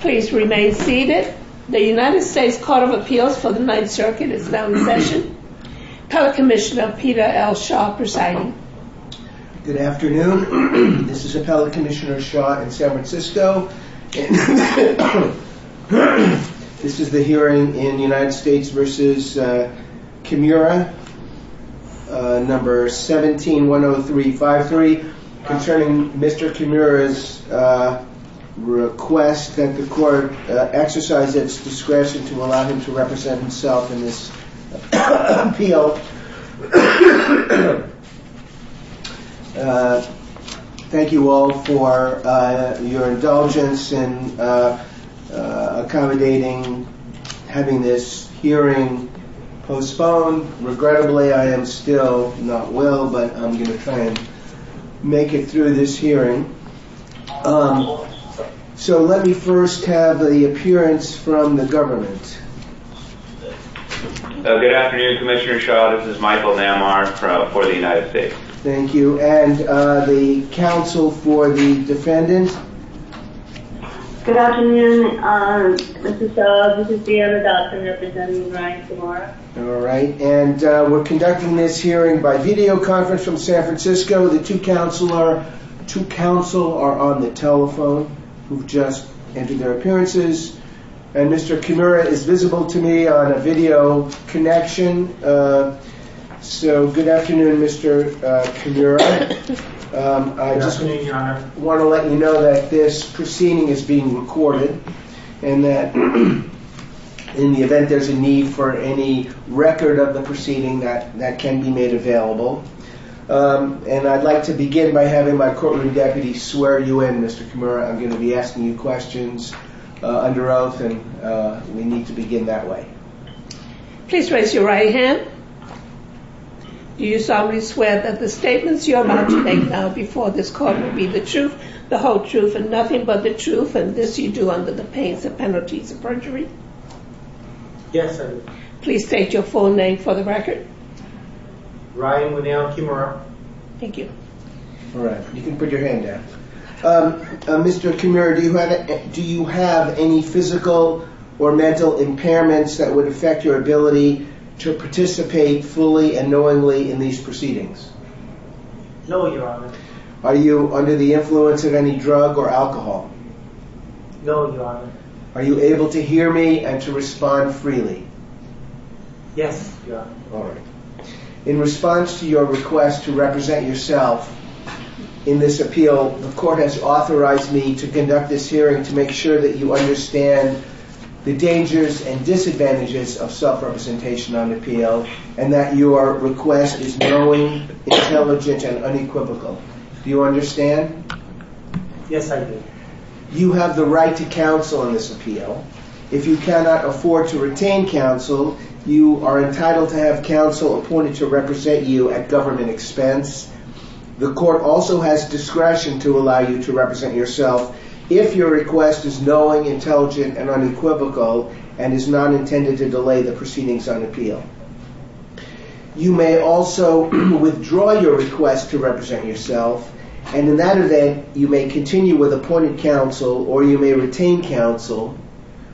Please remain seated. The United States Court of Appeals for the Ninth Circuit is now in session. Pellet Commissioner Peter L. Shaw presiding. Good afternoon. This is a Pellet Commissioner Shaw in San Francisco. This is the hearing in the United States v. Kimura, No. 17-10353, concerning Mr. Kimura's request that the Court exercise its discretion to allow him to represent himself in this appeal. Thank you all for your indulgence in accommodating having this hearing postponed. Regrettably, I am still not well, but I'm going to try and make it through this hearing. So let me first have the appearance from the government. Good afternoon, Commissioner Shaw. This is Good afternoon, Mr. Shaw. This is the other doctor representing Ryan Kimura. All right. And we're conducting this hearing by videoconference from San Francisco. The two counsel are on the telephone, who've just entered their appearances. And Mr. Kimura is visible to me on a video connection. So good afternoon, Mr. Kimura. Good afternoon, Your Honor. I just want to let you know that this proceeding is being recorded, and that in the event there's a need for any record of the proceeding, that can be made available. And I'd like to begin by having my courtroom deputy swear you in, Mr. Kimura. I'm going to be asking you questions under oath, and we need to begin that way. Please raise your right hand. Do you solemnly swear that the statements you are about to make now before this court will be the truth, the whole truth, and nothing but the truth, and this you do under the panes of penalties of perjury? Yes, I do. Please state your full name for the record. Ryan Winnell Kimura. Thank you. All right. You can put your hand down. Mr. Kimura, do you have any physical or mental impairments that would affect your ability to participate fully and knowingly in these proceedings? No, Your Honor. Are you under the influence of any drug or alcohol? No, Your Honor. Are you able to hear me and to respond freely? Yes, Your Honor. All right. In response to your request to represent yourself in this appeal, the court has authorized me to conduct this hearing to make sure that you understand the dangers and disadvantages of self-representation on appeal and that your request is knowing, intelligent, and unequivocal. Do you understand? Yes, I do. You have the right to counsel in this appeal. If you cannot afford to retain counsel, you are entitled to have counsel appointed to represent you at government expense. The court also has discretion to allow you to represent yourself if your request is knowing, intelligent, and unequivocal and is not intended to delay the proceedings on appeal. You may also withdraw your request to represent yourself, and in that event, you may continue with appointed counsel or you may retain counsel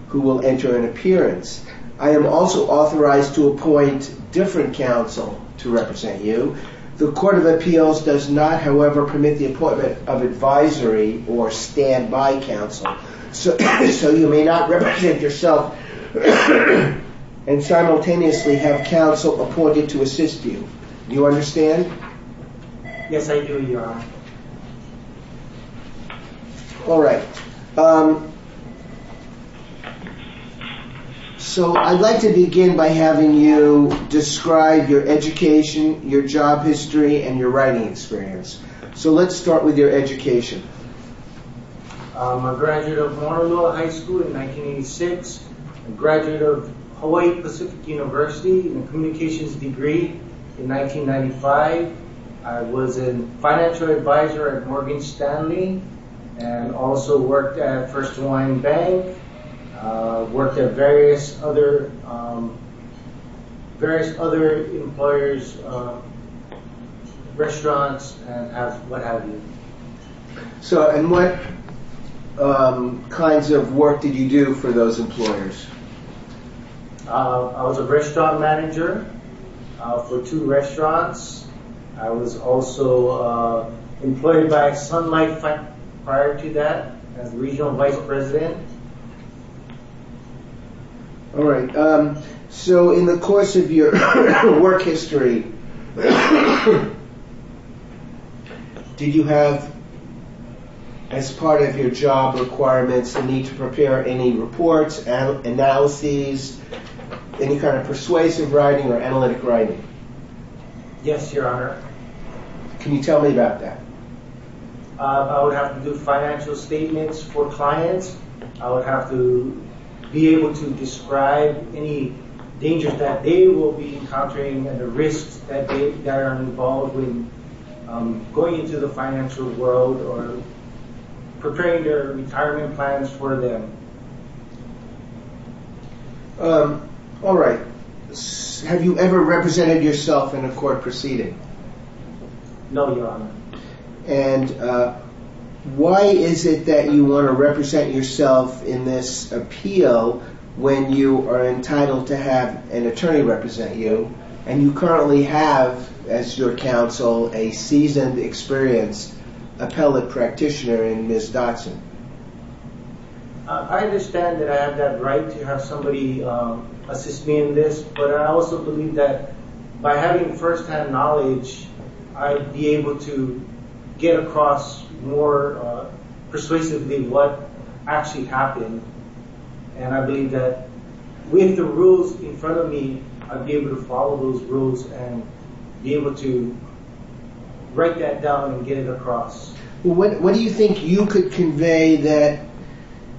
who will enter an appearance. I am also authorized to appoint different counsel to represent you. The Court of Appeals does not, however, permit the appointment of advisory or standby counsel, so you may not represent yourself and simultaneously have counsel appointed to assist you. Do you understand? All right. So I'd like to begin by having you describe your education, your job history, and your writing experience. So let's start with your education. I'm a graduate of Honolulu High School in 1986, a graduate of Hawaii Pacific University in a communications degree in 1995. I was a financial advisor at Morgan Stanley and also worked at First Hawaiian Bank, worked at various other employers' restaurants and what have you. And what kinds of work did you do for those employers? I was a restaurant manager for two restaurants. I was also employed by Sun Life prior to that as regional vice president. All right. So in the course of your work history, did you have, as part of your job requirements, a need to prepare any reports, analyses, any kind of persuasive writing or analytic writing? Yes, Your Honor. Can you tell me about that? I would have to do financial statements for clients. I would have to be able to describe any dangers that they will be encountering and the risks that are involved with going into the financial world or preparing their retirement plans for them. All right. Have you ever represented yourself in a court proceeding? No, Your Honor. And why is it that you want to represent yourself in this appeal when you are entitled to have an attorney represent you and you currently have, as your counsel, a seasoned, experienced appellate practitioner in Ms. Dodson? I understand that I have that right to have somebody assist me in this, but I also believe that by having firsthand knowledge, I'd be able to get across more persuasively what actually happened, and I believe that with the rules in front of me, I'd be able to follow those rules and be able to write that down and get it across. What do you think you could convey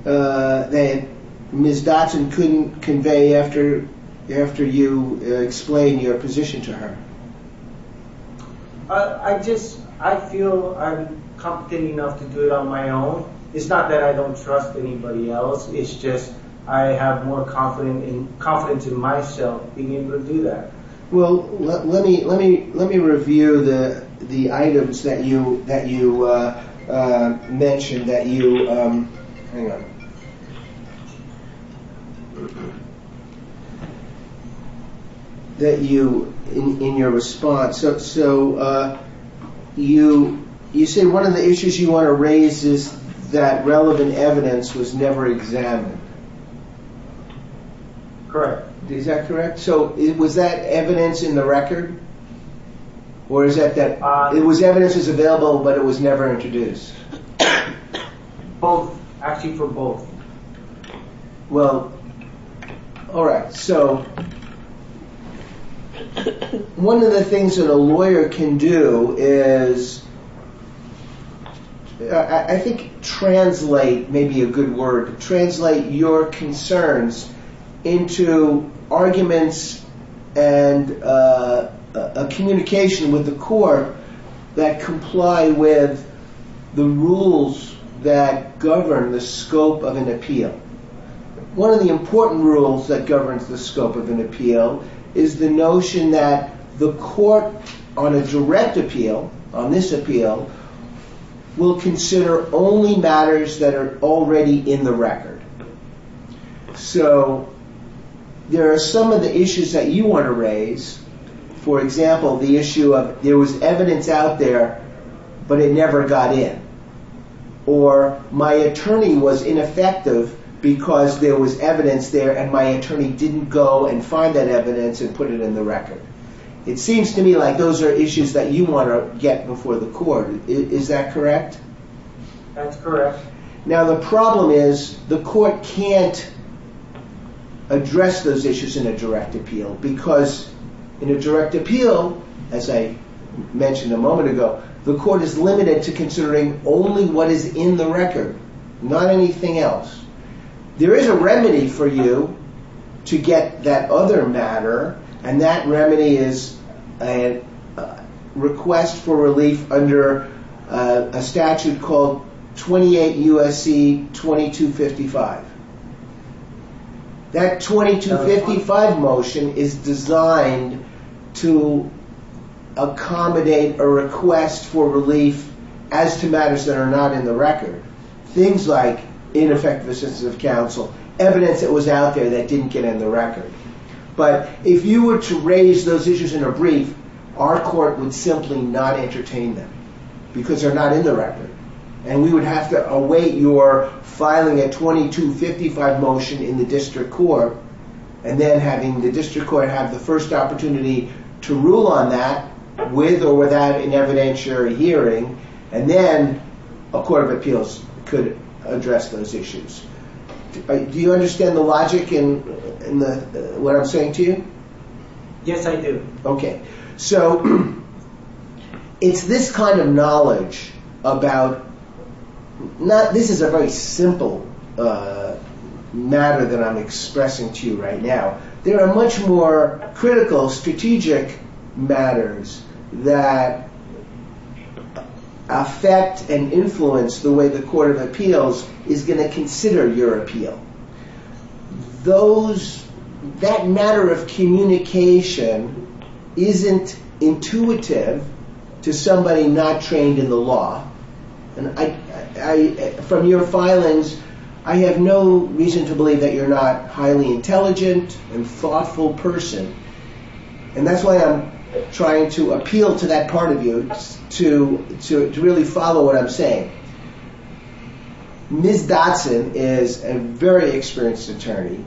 that Ms. Dodson couldn't convey after you explained your position to her? I just, I feel I'm competent enough to do it on my own. It's not that I don't trust anybody else. It's just I have more confidence in myself being able to do that. Well, let me review the items that you mentioned that you, hang on, that you, in your response. So, you say one of the issues you want to raise is that relevant evidence was never examined. Correct. Is that correct? So, was that evidence in the record, or is that that it was evidence is available, but it was never introduced? Both, actually for both. Well, all right. So, one of the things that a lawyer can do is, I think, translate, maybe a good word, translate your concerns into arguments and a communication with the court that comply with the rules that govern the scope of an appeal. One of the important rules that governs the scope of an appeal is the notion that the court on a direct appeal, on this appeal, will consider only matters that are already in the record. So, there are some of the issues that you want to raise. For example, the issue of there was evidence out there, but it never got in. Or, my attorney was ineffective because there was evidence there, and my attorney didn't go and find that evidence and put it in the court. Is that correct? That's correct. Now, the problem is the court can't address those issues in a direct appeal, because in a direct appeal, as I mentioned a moment ago, the court is limited to considering only what is in the record, not anything else. There is a remedy for you to get that other matter, and that remedy is a request for relief under a statute called 28 U.S.C. 2255. That 2255 motion is designed to accommodate a request for relief as to matters that are not in the record. Things like ineffective assistance of counsel, evidence that was out there that If you were to raise those issues in a brief, our court would simply not entertain them, because they're not in the record, and we would have to await your filing a 2255 motion in the district court, and then having the district court have the first opportunity to rule on that with or without an evidentiary hearing, and then a court of appeals could address those issues. Do you understand the logic in what I'm saying to you? Yes, I do. Okay. So, it's this kind of knowledge about, this is a very simple matter that I'm expressing to you right now. There are much more critical, strategic matters that affect and influence the way the court of appeals is going to consider your appeal. That matter of communication isn't intuitive to somebody not trained in the law. From your filings, I have no reason to believe that you're not a highly intelligent and thoughtful person, and that's why I'm trying to appeal to that part of you to really follow what I'm saying. Ms. Dodson is a very experienced attorney,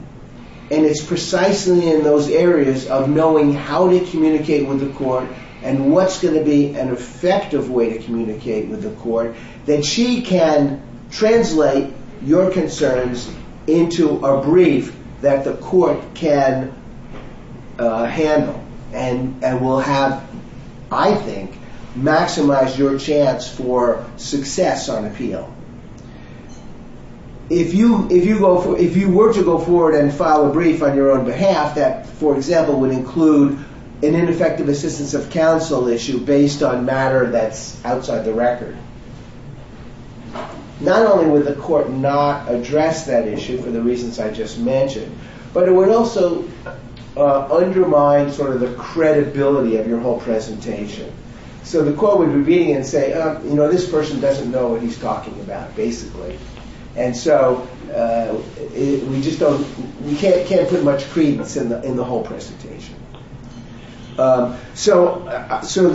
and it's precisely in those areas of knowing how to communicate with the court and what's going to be an effective way to communicate with the court that she can translate your concerns into a brief that the court can handle and will have, I think, maximize your chance for success on appeal. If you were to go forward and file a brief on your own behalf, that, for example, would include an ineffective assistance of counsel issue based on matter that's outside the record. Not only would the court not address that issue for the reasons I just mentioned, but it would also undermine sort of the credibility of your whole presentation. So the court would be reading it and say, oh, you know, this person doesn't know what he's talking about, basically. And so we just don't, we can't put much credence in the whole presentation. So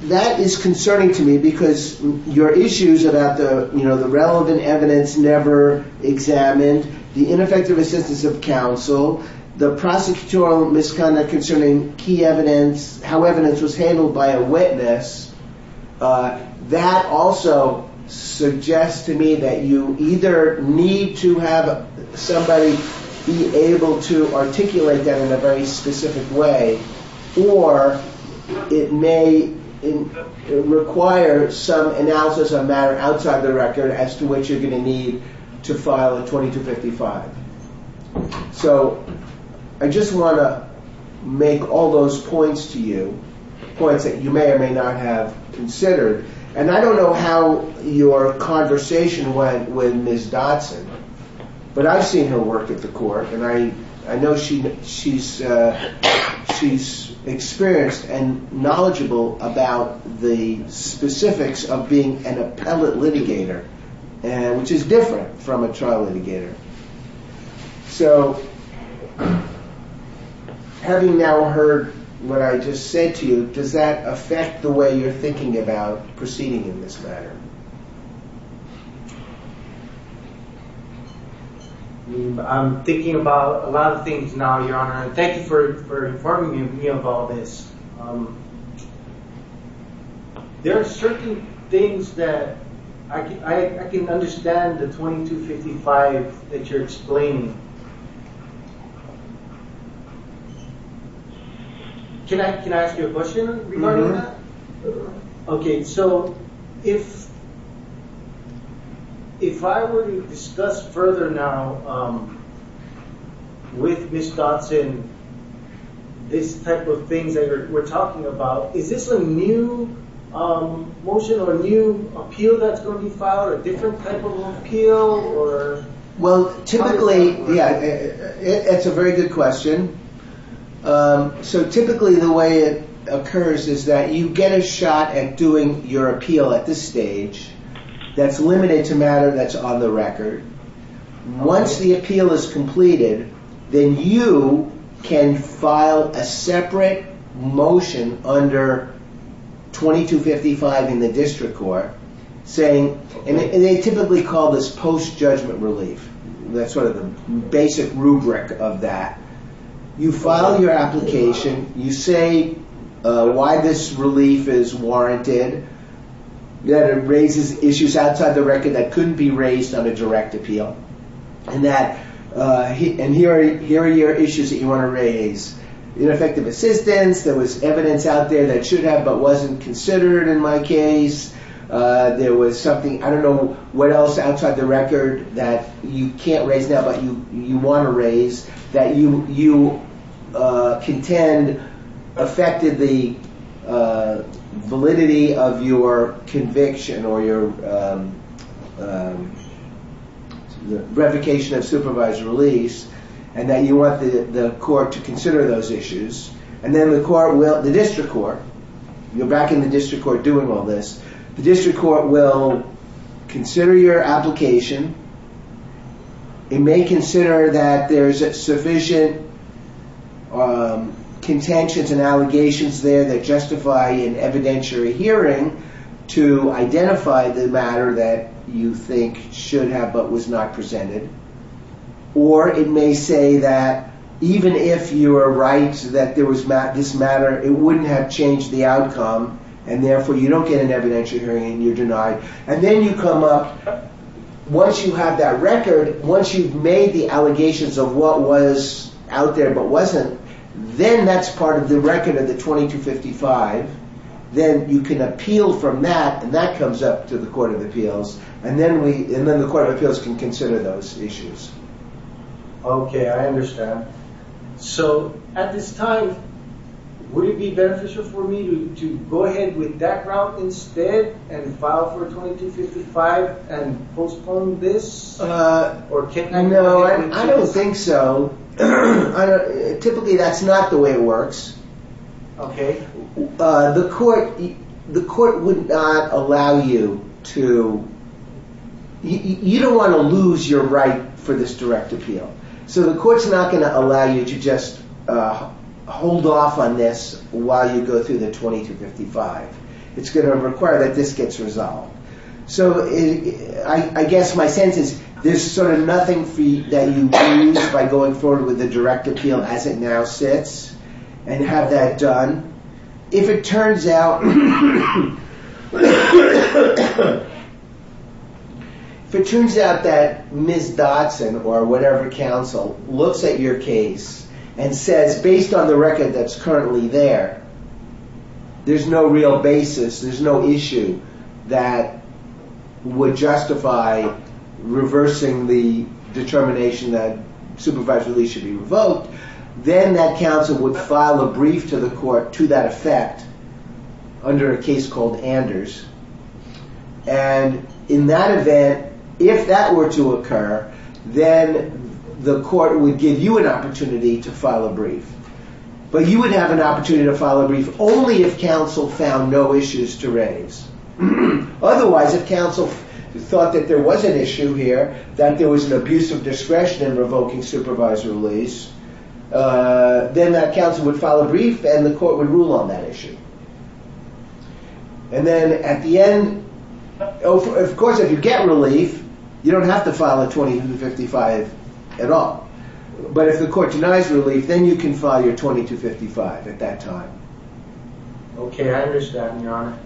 that is concerning to me because your issues about the relevant evidence never examined, the ineffective assistance of counsel, the prosecutorial misconduct concerning key evidence, how evidence was handled by a witness, that also suggests to me that you either need to have somebody be able to articulate that in a very specific way, or it may require some analysis of matter outside the record as to what you're going to need to file a 2255. So I just want to make all those points to you, points that you may or may not have considered. And I don't know how your conversation went with Ms. Dodson, but I've seen her work at I know she's experienced and knowledgeable about the specifics of being an appellate litigator, which is different from a trial litigator. So having now heard what I just said to you, does that affect the way you're thinking about proceeding in this matter? I'm thinking about a lot of things now, Your Honor. Thank you for informing me of all this. There are certain things that I can understand the 2255 that you're explaining. Can I ask you a question regarding that? Okay, so if I were to discuss further now with Ms. Dodson this type of things that we're talking about, is this a new motion or a new appeal that's going to be filed? Well, typically, yeah, it's a very good question. So typically the way it occurs is that you get a shot at doing your appeal at this stage that's limited to matter that's on the record. Once the appeal is completed, then you can file a separate motion under 2255 in the district court saying, and they typically call this post-judgment relief. That's sort of the basic rubric of that. You file your application. You say why this relief is warranted, that it raises issues outside the record that couldn't be raised on a direct appeal. And here are your issues that you want to raise. Ineffective assistance, there was evidence out there that should have, but wasn't considered in my case. There was something, I don't know what else outside the record that you can't raise now, but you want to raise, that you contend affected the validity of your conviction or your revocation of supervised release, and that you want the court to consider those issues. And then the court will, the district court, you're back in the district court doing all this. The district court will consider your application. It may consider that there's sufficient contentions and allegations there that justify an evidentiary hearing to identify the matter that you think should have but was not presented. Or it may say that even if you were right that this matter, it wouldn't have changed the outcome, and therefore you don't get an evidentiary hearing and you're denied. And then you come up, once you have that record, once you've made the allegations of what was out there but wasn't, then that's part of the record of the 2255. Then you can appeal from that, and that comes up to the Court of Appeals, and then the Court of Appeals can consider those issues. Okay, I understand. So at this time, would it be beneficial for me to go ahead with that route instead and file for 2255 and postpone this? No, I don't think so. Typically that's not the way it works. Okay. The court would not allow you to... You don't want to lose your right for this direct appeal. So the court's not going to allow you to just hold off on this while you go through the 2255. It's going to require that this gets resolved. So I guess my sense is there's sort of nothing that you lose by going forward with the direct appeal as it now sits and have that done. If it turns out that Ms. Dodson or whatever counsel looks at your case and says, based on the record that's currently there, there's no real basis, there's no issue that would justify reversing the determination that supervised release should be revoked, then that counsel would file a brief to the court to that effect under a case called Anders. And in that event, if that were to occur, then the court would give you an opportunity to file a brief. But you would have an opportunity to file a brief only if counsel found no issues to raise. Otherwise, if counsel thought that there was an issue here, that there was an abuse of discretion in revoking supervised release, then that counsel would file a brief and the court would rule on that issue. And then at the end, of course, if you get relief, you don't have to file a 2255 at all. But if the court denies relief, then you can file your 2255 at that time. Okay, I understand, Your Honor.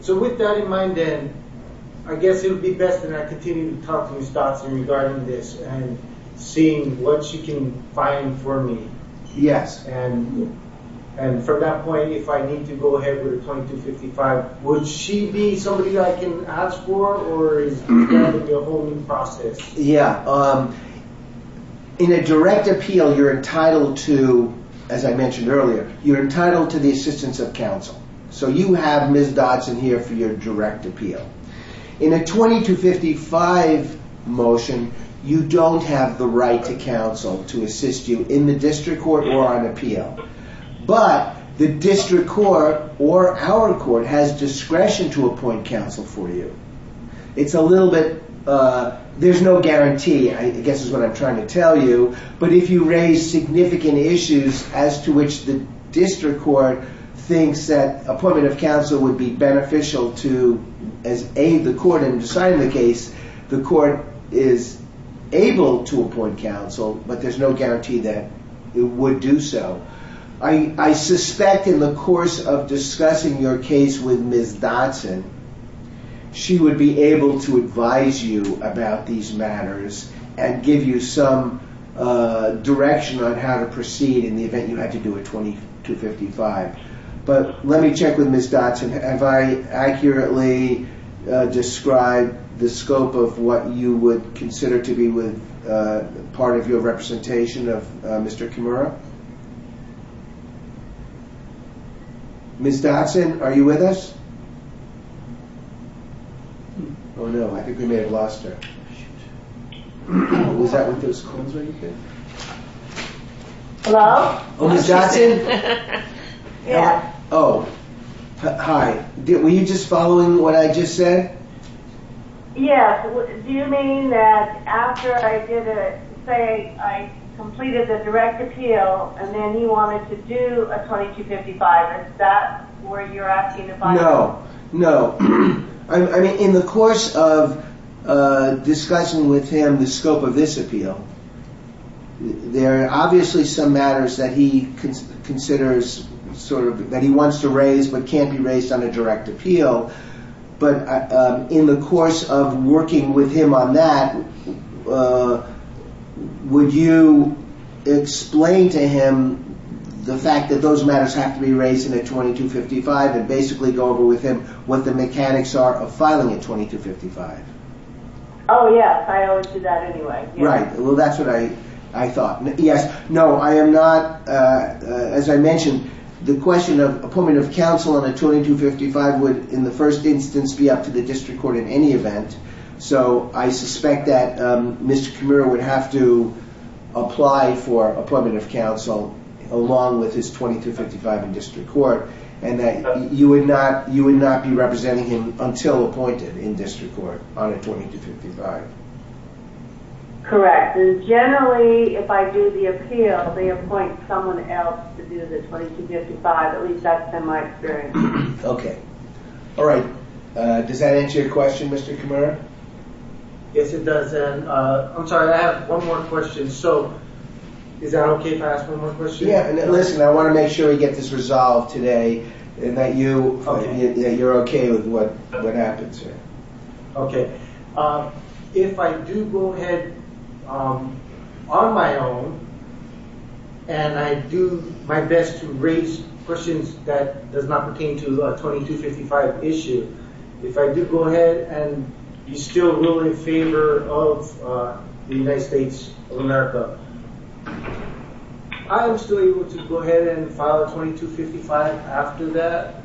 So with that in mind, then, I guess it would be best that I continue to talk to Ms. Dodson regarding this and seeing what she can find for me. Yes. And from that point, if I need to go ahead with a 2255, would she be somebody I can ask for, or is that going to be a whole new process? Yeah. In a direct appeal, you're entitled to, as I mentioned earlier, you're entitled to the assistance of counsel. So you have Ms. Dodson here for your direct appeal. In a 2255 motion, you don't have the right to counsel to assist you in the district court or on appeal. But the district court or our court has discretion to appoint counsel for you. It's a little bit, there's no guarantee, I guess is what I'm trying to tell you. But if you raise significant issues as to which the district court thinks that appointment of counsel would be beneficial to, as the court in deciding the case, the court is able to appoint counsel, but there's no guarantee that it would do so. I suspect in the course of discussing your case with Ms. Dodson, she would be able to advise you about these matters and give you some direction on how to proceed in the event you had to do a 2255. But let me check with Ms. Dodson. Have I accurately described the scope of what you would consider to be part of your representation of Mr. Kimura? Ms. Dodson, are you with us? Oh, no, I think we may have lost her. Shoot. Was that with those clones when you came? Hello? Oh, Ms. Dodson? Yeah. Oh, hi. Were you just following what I just said? Yeah. Do you mean that after I did it, say I completed the direct appeal, and then he wanted to do a 2255, is that where you're asking advice? No, no. I mean, in the course of discussing with him the scope of this appeal, there are obviously some matters that he considers sort of that he wants to raise but can't be raised on a direct appeal. But in the course of working with him on that, would you explain to him the fact that those matters have to be raised in a 2255 and basically go over with him what the mechanics are of filing a 2255? Oh, yeah. I always do that anyway. Right. Well, that's what I thought. Yes. No, I am not. As I mentioned, the question of appointment of counsel on a 2255 would, in the first instance, be up to the district court in any event. So I suspect that Mr. Kamira would have to apply for appointment of counsel along with his 2255 in district court and that you would not be representing him until appointed in district court on a 2255. Correct. And generally, if I do the appeal, they appoint someone else to do the 2255. At least that's been my experience. Okay. All right. Does that answer your question, Mr. Kamira? Yes, it does. And I'm sorry, I have one more question. So is that okay if I ask one more question? Yeah. And listen, I want to make sure we get this resolved today and that you're okay with what happens here. Okay. If I do go ahead on my own and I do my best to raise questions that does not pertain to a 2255 issue, if I do go ahead and you still rule in favor of the United States of America, I am still able to go ahead and file a 2255 after that?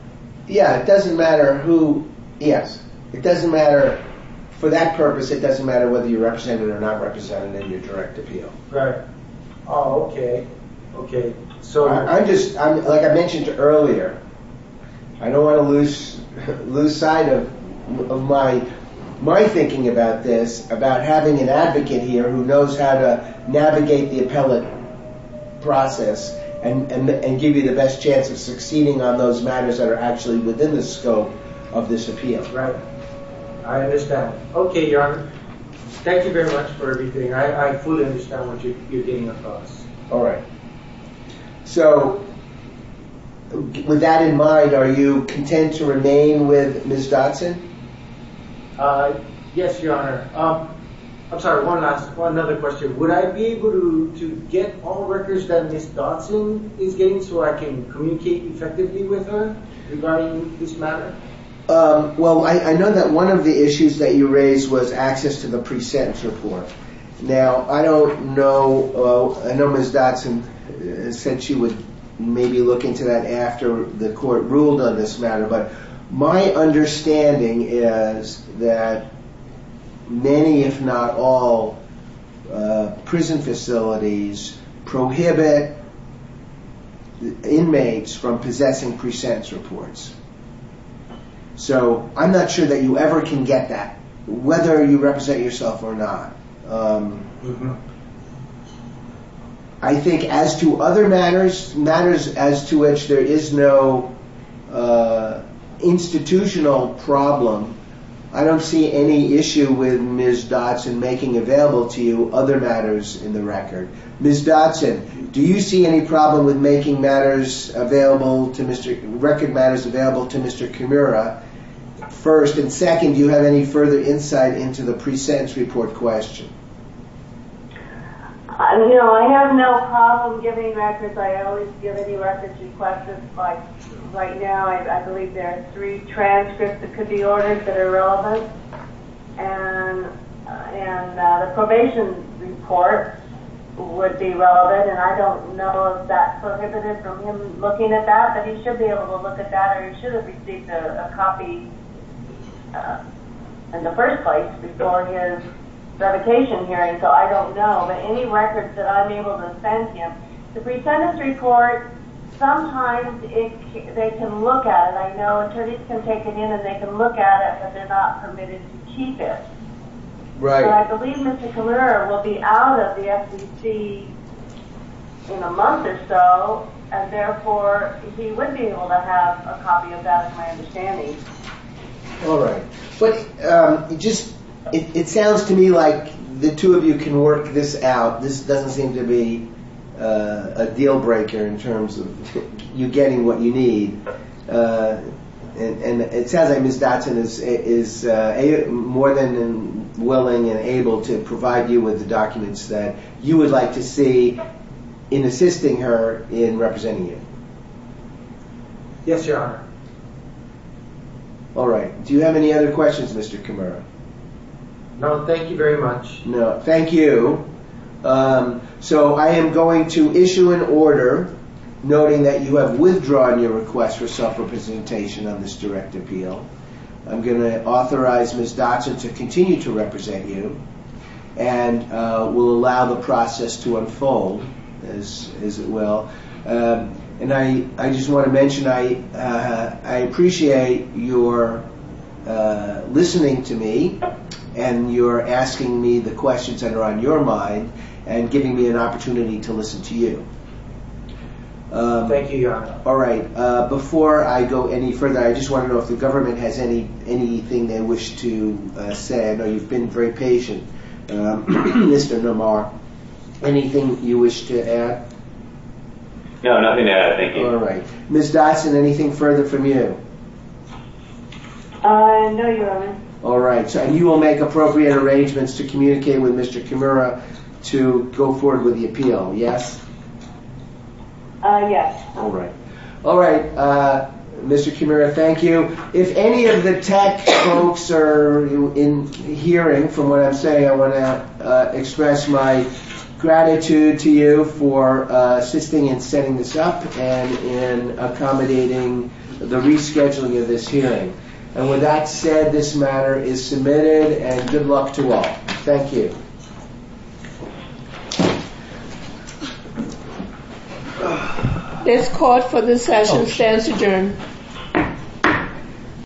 Yeah, it doesn't matter who. Yes, it doesn't matter. For that purpose, it doesn't matter whether you're represented or not represented in your direct appeal. Right. Oh, okay. Okay. Like I mentioned earlier, I don't want to lose sight of my thinking about this, about having an advocate here who knows how to navigate the appellate process and give you the best chance of succeeding on those matters that are actually within the scope of this appeal. Right. I understand. Okay, Your Honor. Thank you very much for everything. I fully understand what you're getting across. All right. So, with that in mind, are you content to remain with Ms. Dodson? Yes, Your Honor. I'm sorry, one last, one other question. Would I be able to get all records that Ms. Dodson is getting so I can communicate effectively with her regarding this matter? Well, I know that one of the issues that you raised was access to the pre-sentence report. Now, I don't know, I know Ms. Dodson said she would maybe look into that after the court ruled on this matter, but my understanding is that many, if not all, prison facilities prohibit inmates from possessing pre-sentence reports. So, I'm not sure that you ever can get that, whether you represent yourself or not. I think as to other matters, matters as to which there is no institutional problem, I don't see any issue with Ms. Dodson making available to you other matters in the record. Ms. Dodson, do you see any problem with making matters available to Mr., record matters available to Mr. Kimura first? And second, do you have any further insight into the pre-sentence report question? You know, I have no problem giving records. I always give any records in question. Like right now, I believe there are three transcripts that could be ordered that are relevant, and the probation report would be relevant. And I don't know if that's prohibited from him looking at that, but he should be able to look at that, or he should have received a copy in the first place before his revocation hearing, so I don't know. But any records that I'm able to send him, the pre-sentence report, sometimes they can look at it. I know attorneys can take it in and they can look at it, but they're not permitted to keep it. And I believe Mr. Kimura will be out of the SEC in a month or so, and therefore he would be able to have a copy of that, is my understanding. All right. It sounds to me like the two of you can work this out. This doesn't seem to be a deal-breaker in terms of you getting what you need, and it sounds like Ms. Dotson is more than willing and able to provide you with the documents that you would like to see in assisting her in representing you. Yes, Your Honor. All right. Do you have any other questions, Mr. Kimura? No, thank you very much. No, thank you. So I am going to issue an order noting that you have withdrawn your request for self-representation on this direct appeal. I'm going to authorize Ms. Dotson to continue to represent you and will allow the process to unfold, as it will. And I just want to mention I appreciate your listening to me and your asking me the questions that are on your mind and giving me an opportunity to listen to you. All right. Before I go any further, I just want to know if the government has anything they wish to say. I know you've been very patient. Mr. Nomar, anything you wish to add? No, nothing to add. Thank you. All right. Ms. Dotson, anything further from you? No, Your Honor. All right. So you will make appropriate arrangements to communicate with Mr. Kimura to go forward with the appeal, yes? Yes. All right. Mr. Kimura, thank you. If any of the tech folks are hearing from what I'm saying, I want to express my gratitude to you for assisting in setting this up and in accommodating the rescheduling of this hearing. And with that said, this matter is submitted and good luck to all. Thank you. Thank you. This court for this session stands adjourned.